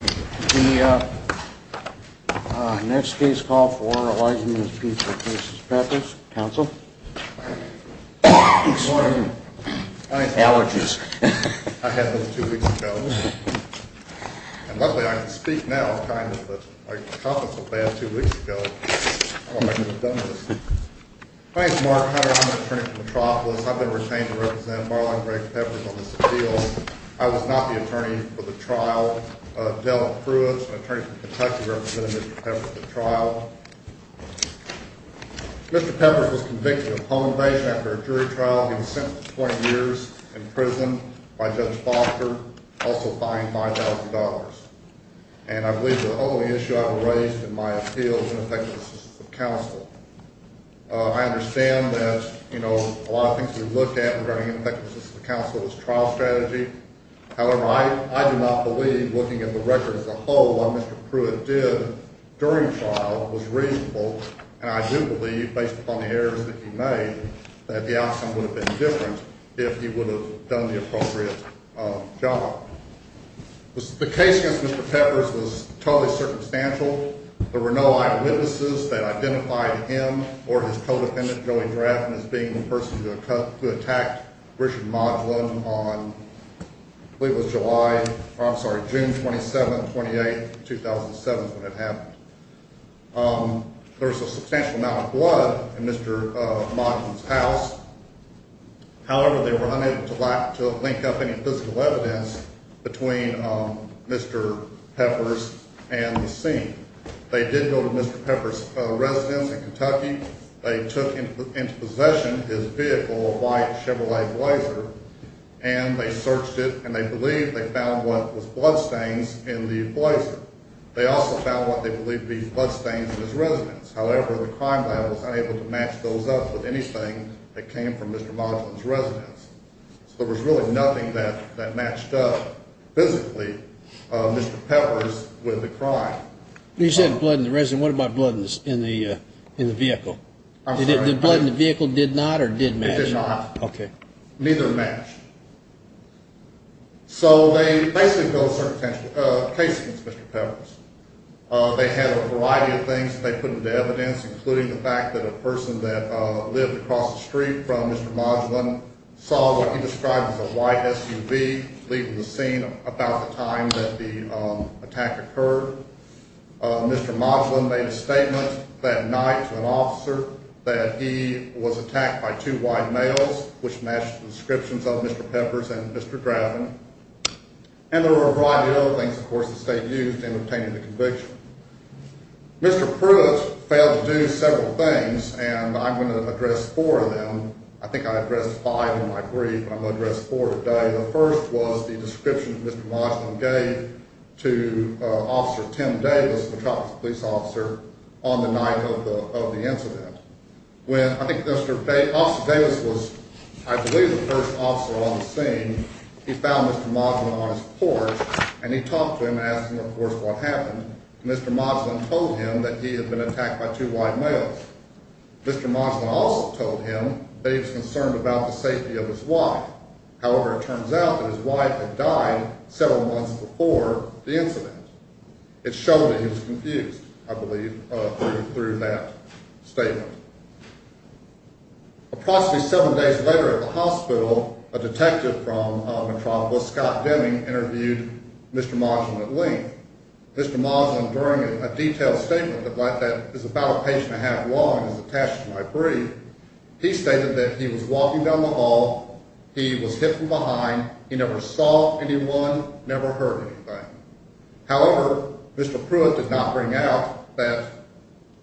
The next case call for Elijah Nunez Peters v. Peppers, counsel. I had those two weeks ago, and luckily I can speak now, kind of, but I coughed up a bad two weeks ago. I don't know if I could have done this. My name is Mark Hunter. I'm an attorney for Metropolis. I've been retained to represent Marlon Greg Peppers on this appeal. I was not the attorney for the trial. Della Pruitt, an attorney from Kentucky, represented Mr. Peppers at the trial. Mr. Peppers was convicted of home invasion after a jury trial, being sentenced to 20 years in prison by Judge Foster, also fined $5,000. And I believe the only issue I've raised in my appeal is ineffective assistance of counsel. I understand that, you know, a lot of things we look at regarding ineffective assistance of counsel is trial strategy. However, I do not believe looking at the record as a whole, what Mr. Pruitt did during trial was reasonable. And I do believe, based upon the errors that he made, that the outcome would have been different if he would have done the appropriate job. The case against Mr. Peppers was totally circumstantial. There were no eyewitnesses that identified him or his co-defendant, Joey Drafton, as being the person who attacked Richard Modlin on – I believe it was July – I'm sorry, June 27th, 28th, 2007 is when it happened. There was a substantial amount of blood in Mr. Modlin's house. However, they were unable to link up any physical evidence between Mr. Peppers and the scene. They did go to Mr. Peppers' residence in Kentucky. They took into possession his vehicle, a white Chevrolet Blazer, and they searched it, and they believe they found what was bloodstains in the Blazer. They also found what they believe to be bloodstains in his residence. However, the crime lab was unable to match those up with anything that came from Mr. Modlin's residence. So there was really nothing that matched up physically Mr. Peppers with the crime. You said blood in the residence. What about blood in the vehicle? The blood in the vehicle did not or did match? It did not. Okay. Neither matched. So they basically built a circumstantial case against Mr. Peppers. They had a variety of things that they put into evidence, including the fact that a person that lived across the street from Mr. Modlin saw what he described as a white SUV leaving the scene about the time that the attack occurred. Mr. Modlin made a statement that night to an officer that he was attacked by two white males, which matched the descriptions of Mr. Peppers and Mr. Graven. And there were a variety of other things, of course, the state used in obtaining the conviction. Mr. Pruitt failed to do several things, and I'm going to address four of them. I think I addressed five in my brief, but I'm going to address four today. The first was the description that Mr. Modlin gave to Officer Tim Davis, the Tropic Police officer, on the night of the incident. When I think Officer Davis was, I believe, the first officer on the scene, he found Mr. Modlin on his porch, and he talked to him and asked him, of course, what happened. Mr. Modlin told him that he had been attacked by two white males. Mr. Modlin also told him that he was concerned about the safety of his wife. However, it turns out that his wife had died several months before the incident. It showed that he was confused, I believe, through that statement. Approximately seven days later at the hospital, a detective from Metropolis, Scott Deming, interviewed Mr. Modlin at length. Mr. Modlin, during a detailed statement that is about a page and a half long and is attached to my brief, he stated that he was walking down the hall, he was hidden behind, he never saw anyone, never heard anything. However, Mr. Pruitt did not bring out that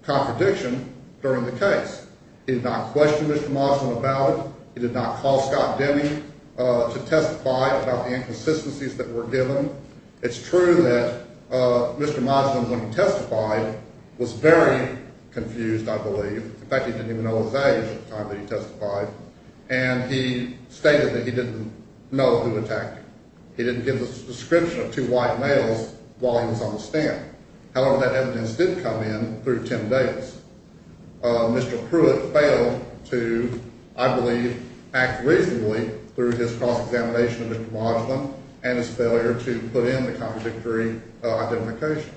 contradiction during the case. He did not question Mr. Modlin about it. He did not call Scott Deming to testify about the inconsistencies that were given. It's true that Mr. Modlin, when he testified, was very confused, I believe. In fact, he didn't even know his age at the time that he testified. And he stated that he didn't know who attacked him. He didn't give the description of two white males while he was on the stand. However, that evidence did come in through Tim Davis. Mr. Pruitt failed to, I believe, act reasonably through his cross-examination of Mr. Modlin and his failure to put in the contradictory identification.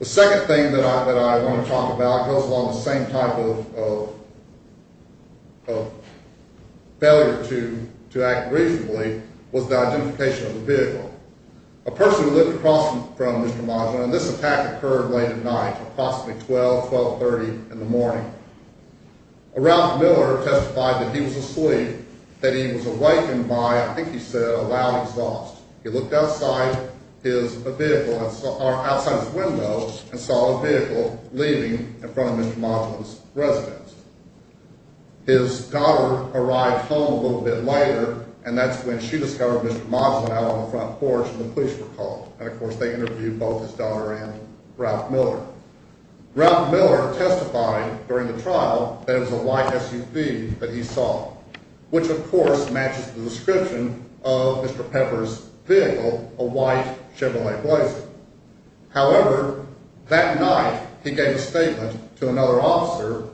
The second thing that I want to talk about goes along the same type of failure to act reasonably, was the identification of the vehicle. A person who lived across from Mr. Modlin, and this attack occurred late at night, approximately 12, 12.30 in the morning. A Ralph Miller testified that he was asleep, that he was awakened by, I think he said, a loud exhaust. He looked outside his window and saw a vehicle leaving in front of Mr. Modlin's residence. His daughter arrived home a little bit later, and that's when she discovered Mr. Modlin out on the front porch, and the police were called. And, of course, they interviewed both his daughter and Ralph Miller. Ralph Miller testified during the trial that it was a white SUV that he saw, which, of course, matches the description of Mr. Pepper's vehicle, a white Chevrolet Blazer. However, that night he gave a statement to another officer.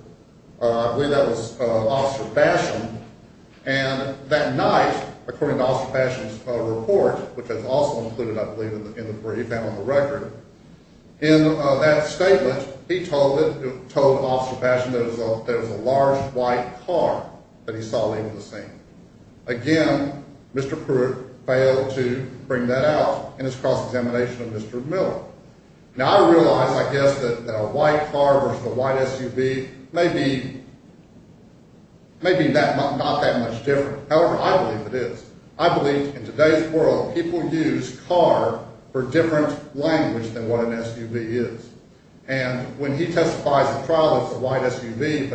I believe that was Officer Basham. And that night, according to Officer Basham's report, which is also included, I believe, where he found the record, in that statement he told Officer Basham that it was a large white car that he saw leaving the scene. Again, Mr. Pruitt failed to bring that out in his cross-examination of Mr. Miller. Now, I realize, I guess, that a white car versus a white SUV may be not that much different. However, I believe it is. I believe in today's world people use car for different language than what an SUV is. And when he testifies at trial that it's a white SUV,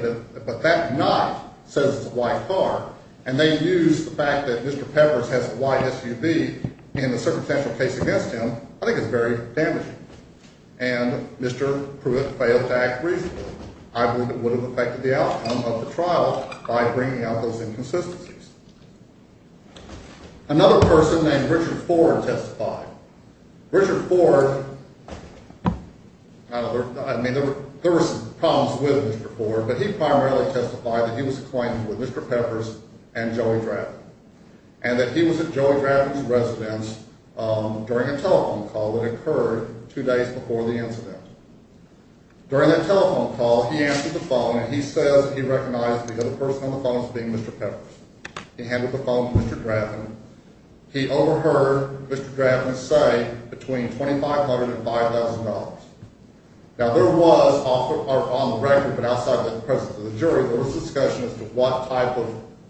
but that night says it's a white car, and they use the fact that Mr. Pepper's has a white SUV in a circumstantial case against him, I think it's very damaging. And Mr. Pruitt failed to act reasonably. I believe it would have affected the outcome of the trial by bringing out those inconsistencies. Another person named Richard Ford testified. Richard Ford, I mean, there were some problems with Mr. Ford, but he primarily testified that he was acquainted with Mr. Pepper's and Joey Drafty, and that he was at Joey Drafty's residence during a telephone call that occurred two days before the incident. During that telephone call, he answered the phone, and he says he recognized the other person on the phone as being Mr. Pepper's. He handed the phone to Mr. Drafty. He overheard Mr. Drafty say between $2,500 and $5,000. Now, there was, on the record but outside the presence of the jury, there was discussion as to what type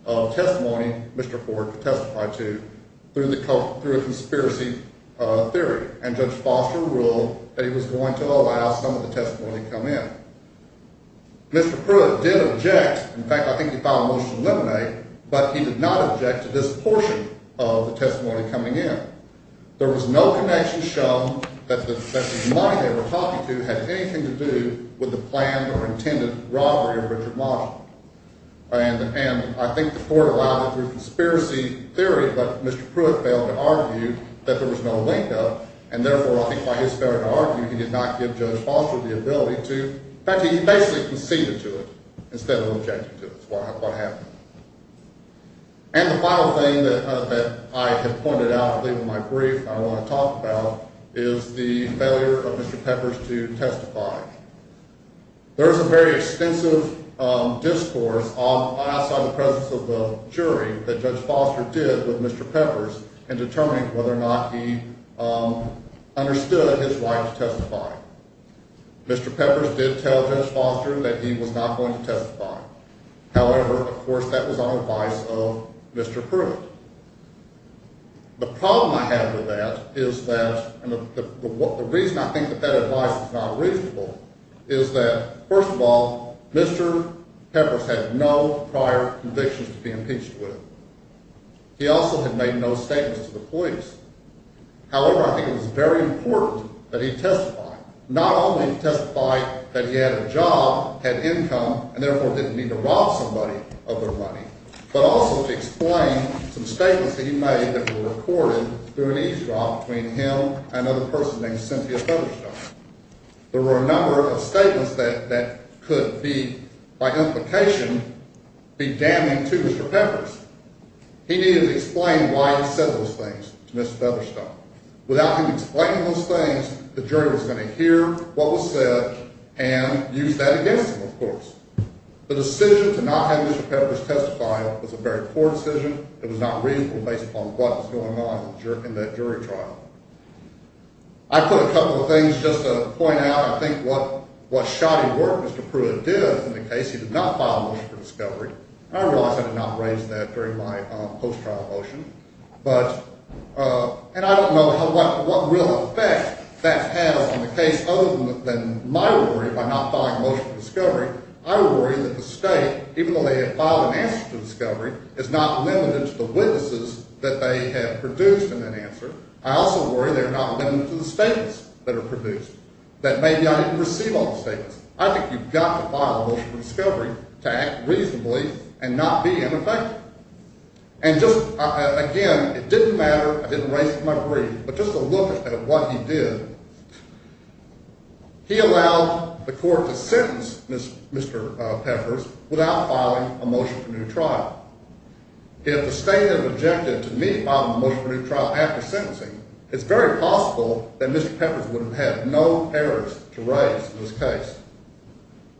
of testimony Mr. Ford testified to through a conspiracy theory. And Judge Foster ruled that he was going to allow some of the testimony to come in. Mr. Pruitt did object. In fact, I think he filed a motion to eliminate, but he did not object to this portion of the testimony coming in. There was no connection shown that the money they were talking to had anything to do with the planned or intended robbery of Richard Marshall. And I think the court allowed it through a conspiracy theory, but Mr. Pruitt failed to argue that there was no link. And therefore, I think by his failure to argue, he did not give Judge Foster the ability to... In fact, he basically conceded to it instead of objecting to what happened. And the final thing that I have pointed out in my brief that I want to talk about is the failure of Mr. Peppers to testify. There is a very extensive discourse outside the presence of the jury that Judge Foster did with Mr. Peppers in determining whether or not he understood his right to testify. Mr. Peppers did tell Judge Foster that he was not going to testify. However, of course, that was on advice of Mr. Pruitt. The problem I have with that is that, and the reason I think that that advice is not reasonable, is that, first of all, Mr. Peppers had no prior convictions to be impeached with. He also had made no statements to the police. However, I think it was very important that he testify. Not only to testify that he had a job, had income, and therefore didn't mean to rob somebody of their money, but also to explain some statements that he made that were recorded through an eavesdrop between him and another person named Cynthia Featherstone. There were a number of statements that could be, by implication, be damning to Mr. Peppers. He needed to explain why he said those things to Ms. Featherstone. Without him explaining those things, the jury was going to hear what was said and use that against him, of course. The decision to not have Mr. Peppers testify was a very poor decision. It was not reasonable based upon what was going on in that jury trial. I put a couple of things just to point out, I think, what shoddy work Mr. Pruitt did in the case. He did not file a motion for discovery. I realize I did not raise that during my post-trial motion, and I don't know what real effect that has on the case other than my worry about not filing a motion for discovery. I worry that the state, even though they have filed an answer to discovery, is not limited to the witnesses that they have produced in that answer. I also worry they're not limited to the statements that are produced, that maybe I didn't receive all the statements. I think you've got to file a motion for discovery to act reasonably and not be ineffective. And just, again, it didn't matter, I didn't raise it in my brief, but just a look at what he did. He allowed the court to sentence Mr. Peppers without filing a motion for new trial. If the state had objected to me filing a motion for new trial after sentencing, it's very possible that Mr. Peppers would have had no errors to raise in this case.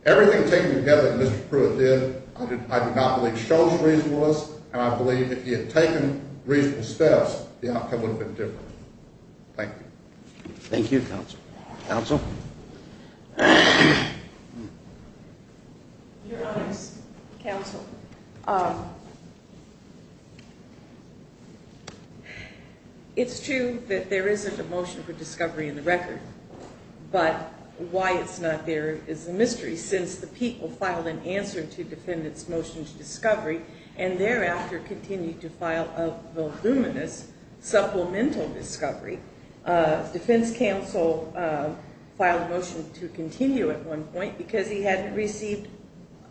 Everything taken together that Mr. Pruitt did, I do not believe, shows reasonableness, and I believe if he had taken reasonable steps, the outcome would have been different. Thank you. Thank you, counsel. Counsel? Your Honor's counsel, it's true that there isn't a motion for discovery in the record, but why it's not there is a mystery since the people filed an answer to defendant's motion to discovery and thereafter continued to file a voluminous supplemental discovery. Defense counsel filed a motion to continue at one point because he hadn't received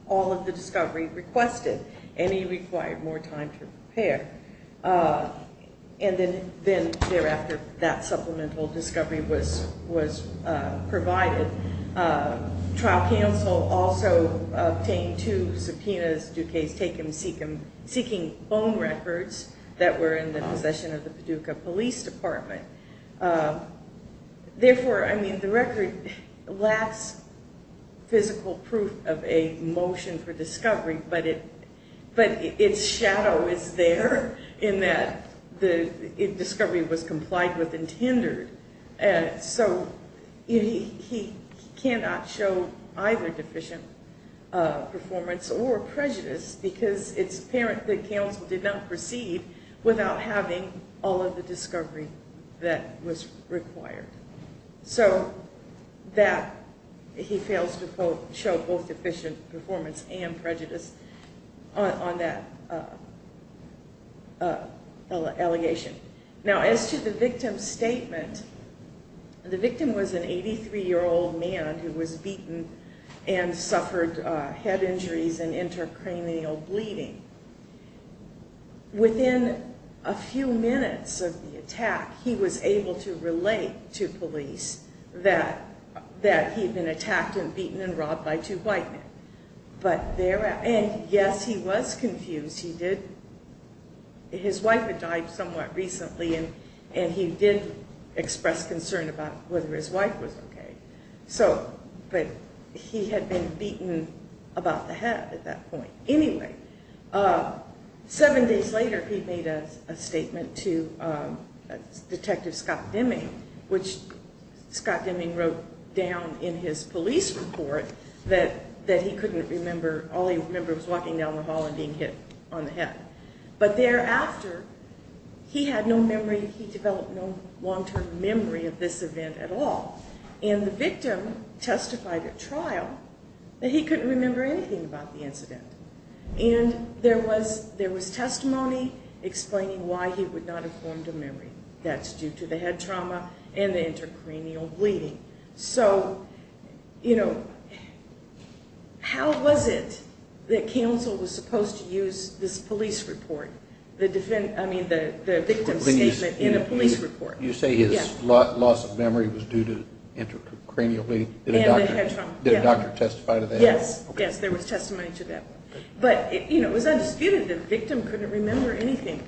all of the discovery requested and he required more time to prepare. And then thereafter that supplemental discovery was provided. Trial counsel also obtained two subpoenas due case taken seeking phone records that were in the possession of the Paducah Police Department. Therefore, I mean, the record lacks physical proof of a motion for discovery, but its shadow is there in that the discovery was complied with and tendered. So he cannot show either deficient performance or prejudice because it's apparent that counsel did not proceed without having all of the discovery that was required. So that he fails to show both deficient performance and prejudice on that allegation. Now as to the victim's statement, the victim was an 83-year-old man who was beaten and suffered head injuries and intracranial bleeding. Within a few minutes of the attack, he was able to relate to police that he had been attacked and beaten and robbed by two white men. And yes, he was confused. His wife had died somewhat recently and he did express concern about whether his wife was okay. But he had been beaten about the head at that point. Anyway, seven days later he made a statement to Detective Scott Deming, which Scott Deming wrote down in his police report that he couldn't remember. All he remembered was walking down the hall and being hit on the head. But thereafter, he had no memory. He developed no long-term memory of this event at all. And the victim testified at trial that he couldn't remember anything about the incident. And there was testimony explaining why he would not have formed a memory. That's due to the head trauma and the intracranial bleeding. So, you know, how was it that counsel was supposed to use this police report, the victim's statement in a police report? You say his loss of memory was due to intracranial bleeding? And the head trauma. Did a doctor testify to that? Yes, yes, there was testimony to that. But it was undisputed that the victim couldn't remember anything.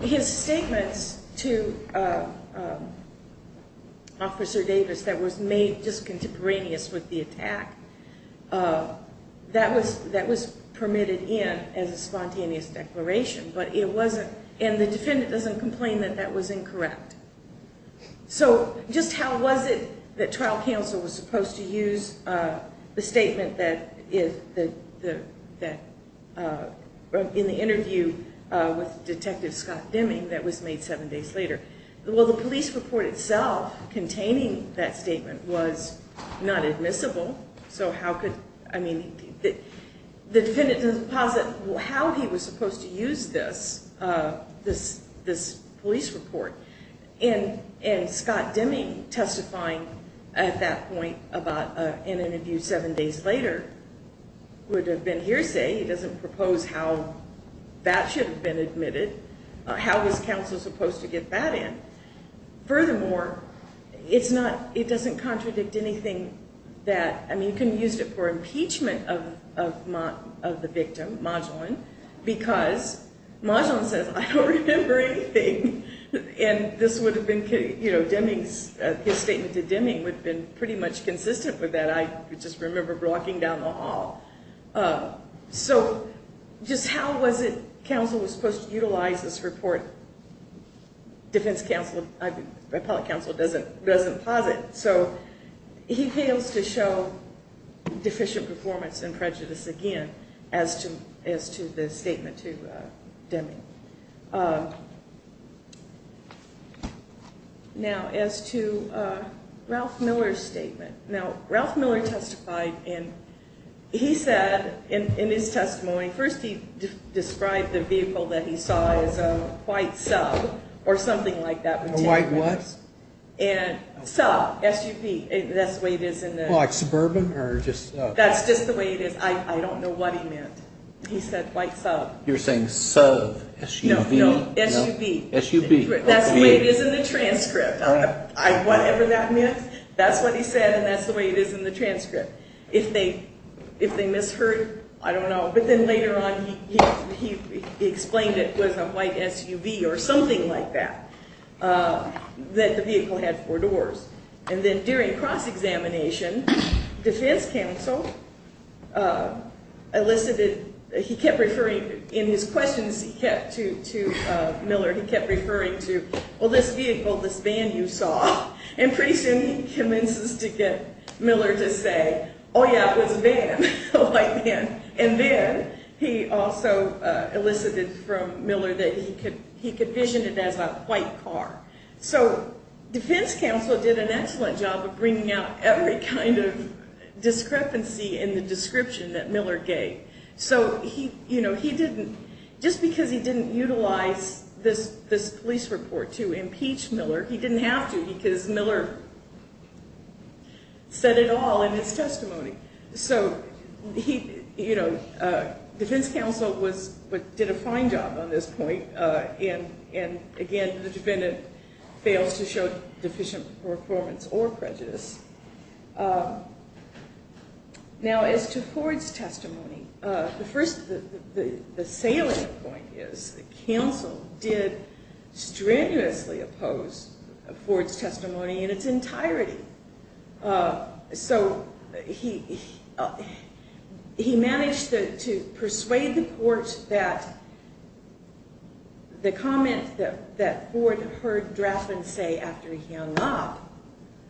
His statements to Officer Davis that was made just contemporaneous with the attack, that was permitted in as a spontaneous declaration, but it wasn't. And the defendant doesn't complain that that was incorrect. So just how was it that trial counsel was supposed to use the statement that, in the interview with Detective Scott Deming that was made seven days later? Well, the police report itself containing that statement was not admissible. So how could, I mean, the defendant doesn't posit how he was supposed to use this police report. And Scott Deming testifying at that point in an interview seven days later would have been hearsay. He doesn't propose how that should have been admitted. How was counsel supposed to get that in? Furthermore, it doesn't contradict anything that, I mean, you can use it for impeachment of the victim, Modulin, because Modulin says, I don't remember anything. And this would have been, you know, Deming's, his statement to Deming would have been pretty much consistent with that. I just remember walking down the hall. So just how was it counsel was supposed to utilize this report? Defense counsel, appellate counsel doesn't posit. So he fails to show deficient performance and prejudice again as to the statement to Deming. Now, as to Ralph Miller's statement. Now, Ralph Miller testified, and he said in his testimony, first he described the vehicle that he saw as a white sub or something like that. A white what? Sub, SUV. That's the way it is in the. Suburban? That's just the way it is. I don't know what he meant. He said white sub. You're saying sub, SUV? No, SUV. SUV. That's the way it is in the transcript. Whatever that means, that's what he said, and that's the way it is in the transcript. If they misheard, I don't know. But then later on he explained it was a white SUV or something like that, that the vehicle had four doors. And then during cross-examination, defense counsel elicited, he kept referring in his questions to Miller, he kept referring to, well, this vehicle, this van you saw. And pretty soon he convinces Miller to say, oh, yeah, it was a van, a white van. And then he also elicited from Miller that he could vision it as a white car. So defense counsel did an excellent job of bringing out every kind of discrepancy in the description that Miller gave. So he didn't, just because he didn't utilize this police report to impeach Miller, he didn't have to because Miller said it all in his testimony. So defense counsel did a fine job on this point. And, again, the defendant fails to show deficient performance or prejudice. Now, as to Ford's testimony, the first, the salient point is counsel did strenuously oppose Ford's testimony in its entirety. So he managed to persuade the court that the comment that Ford heard Draffin say after he hung up,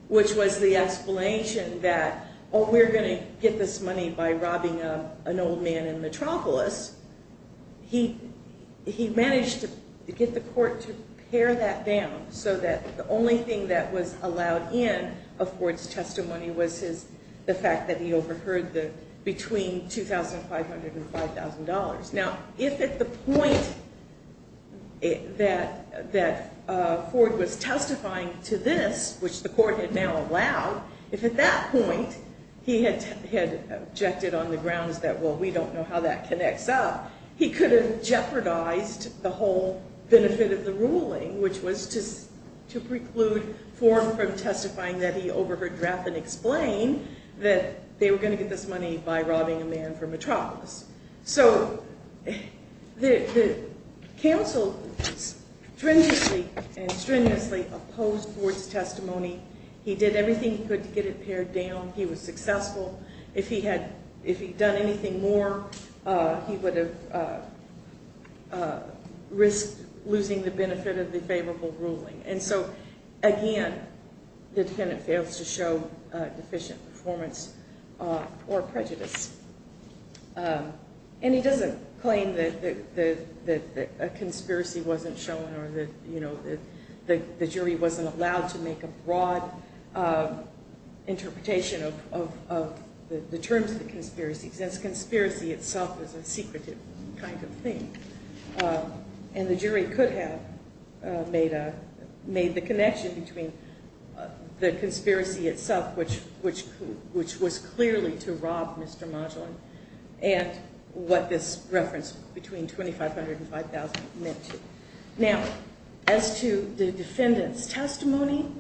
which was the explanation that, oh, we're going to get this money by robbing an old man in Metropolis, he managed to get the court to pare that down so that the only thing that was allowed in of Ford's testimony was the fact that he overheard the between $2,500 and $5,000. Now, if at the point that Ford was testifying to this, which the court had now allowed, if at that point he had objected on the grounds that, well, we don't know how that connects up, he could have jeopardized the whole benefit of the ruling, which was to preclude Ford from testifying that he overheard Draffin explain that they were going to get this money by robbing a man from Metropolis. So the counsel stringently and strenuously opposed Ford's testimony. He did everything he could to get it pared down. He was successful. If he had done anything more, he would have risked losing the benefit of the favorable ruling. And so, again, the defendant fails to show deficient performance or prejudice. And he doesn't claim that a conspiracy wasn't shown or that the jury wasn't allowed to make a broad interpretation of the terms of the conspiracy, since conspiracy itself is a secretive kind of thing. And the jury could have made the connection between the conspiracy itself, which was clearly to rob Mr. Modulin, and what this reference between $2,500 and $5,000 meant to. Now, as to the defendant's testimony,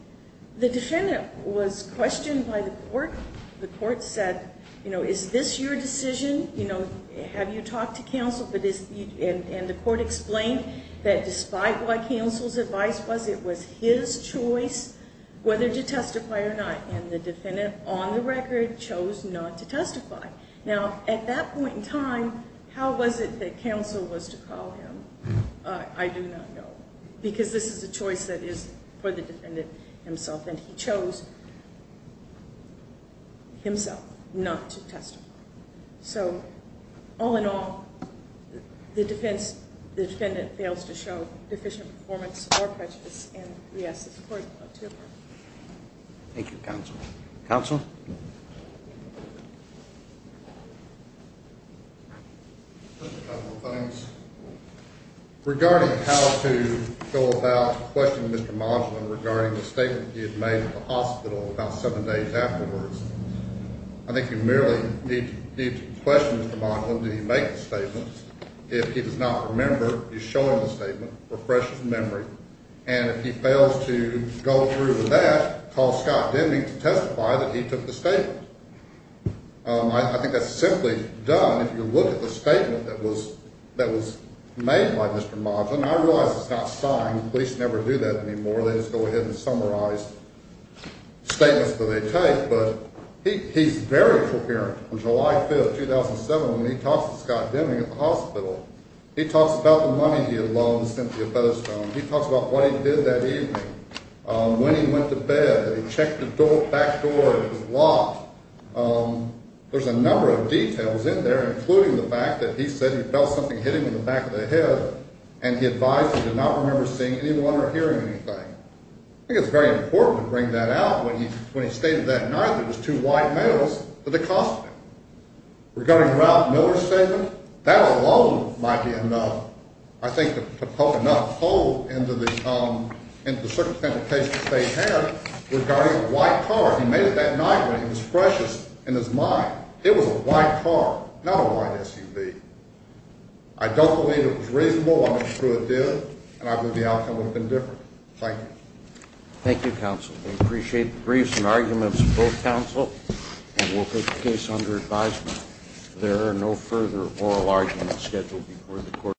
the defendant was questioned by the court. The court said, you know, is this your decision? You know, have you talked to counsel? And the court explained that despite what counsel's advice was, it was his choice whether to testify or not. And the defendant, on the record, chose not to testify. Now, at that point in time, how was it that counsel was to call him? I do not know, because this is a choice that is for the defendant himself, and he chose himself not to testify. So, all in all, the defendant fails to show deficient performance or prejudice, and we ask the court to approve. Thank you, counsel. Counsel? A couple of things. Regarding how to go about questioning Mr. Modulin regarding the statement he had made at the hospital about seven days afterwards, I think you merely need to question Mr. Modulin. Did he make the statement? If he does not remember, you show him the statement, refresh his memory. And if he fails to go through with that, call Scott Denby to testify that he took the statement. I think that's simply done if you look at the statement that was made by Mr. Modulin. I realize it's not signed. Police never do that anymore. They just go ahead and summarize statements that they take, but he's very coherent. On July 5th, 2007, when he talks to Scott Denby at the hospital, he talks about the money he had loaned Cynthia Featherstone. He talks about what he did that evening, when he went to bed, that he checked the back door and it was locked. There's a number of details in there, including the fact that he said he felt something hit him in the back of the head, and he advised that he did not remember seeing anyone or hearing anything. I think it's very important to bring that out. When he stated that night, there was two white males that had cost him. Regarding Ralph Miller's statement, that alone might be enough, I think, to poke enough hole into the circumstantial case that they had regarding a white car. He made it that night, but it was precious in his mind. It was a white car, not a white SUV. I don't believe it was reasonable. I'm not sure it did, and I believe the outcome would have been different. Thank you. Thank you, counsel. We appreciate the briefs and arguments of both counsel, and we'll put the case under advisement.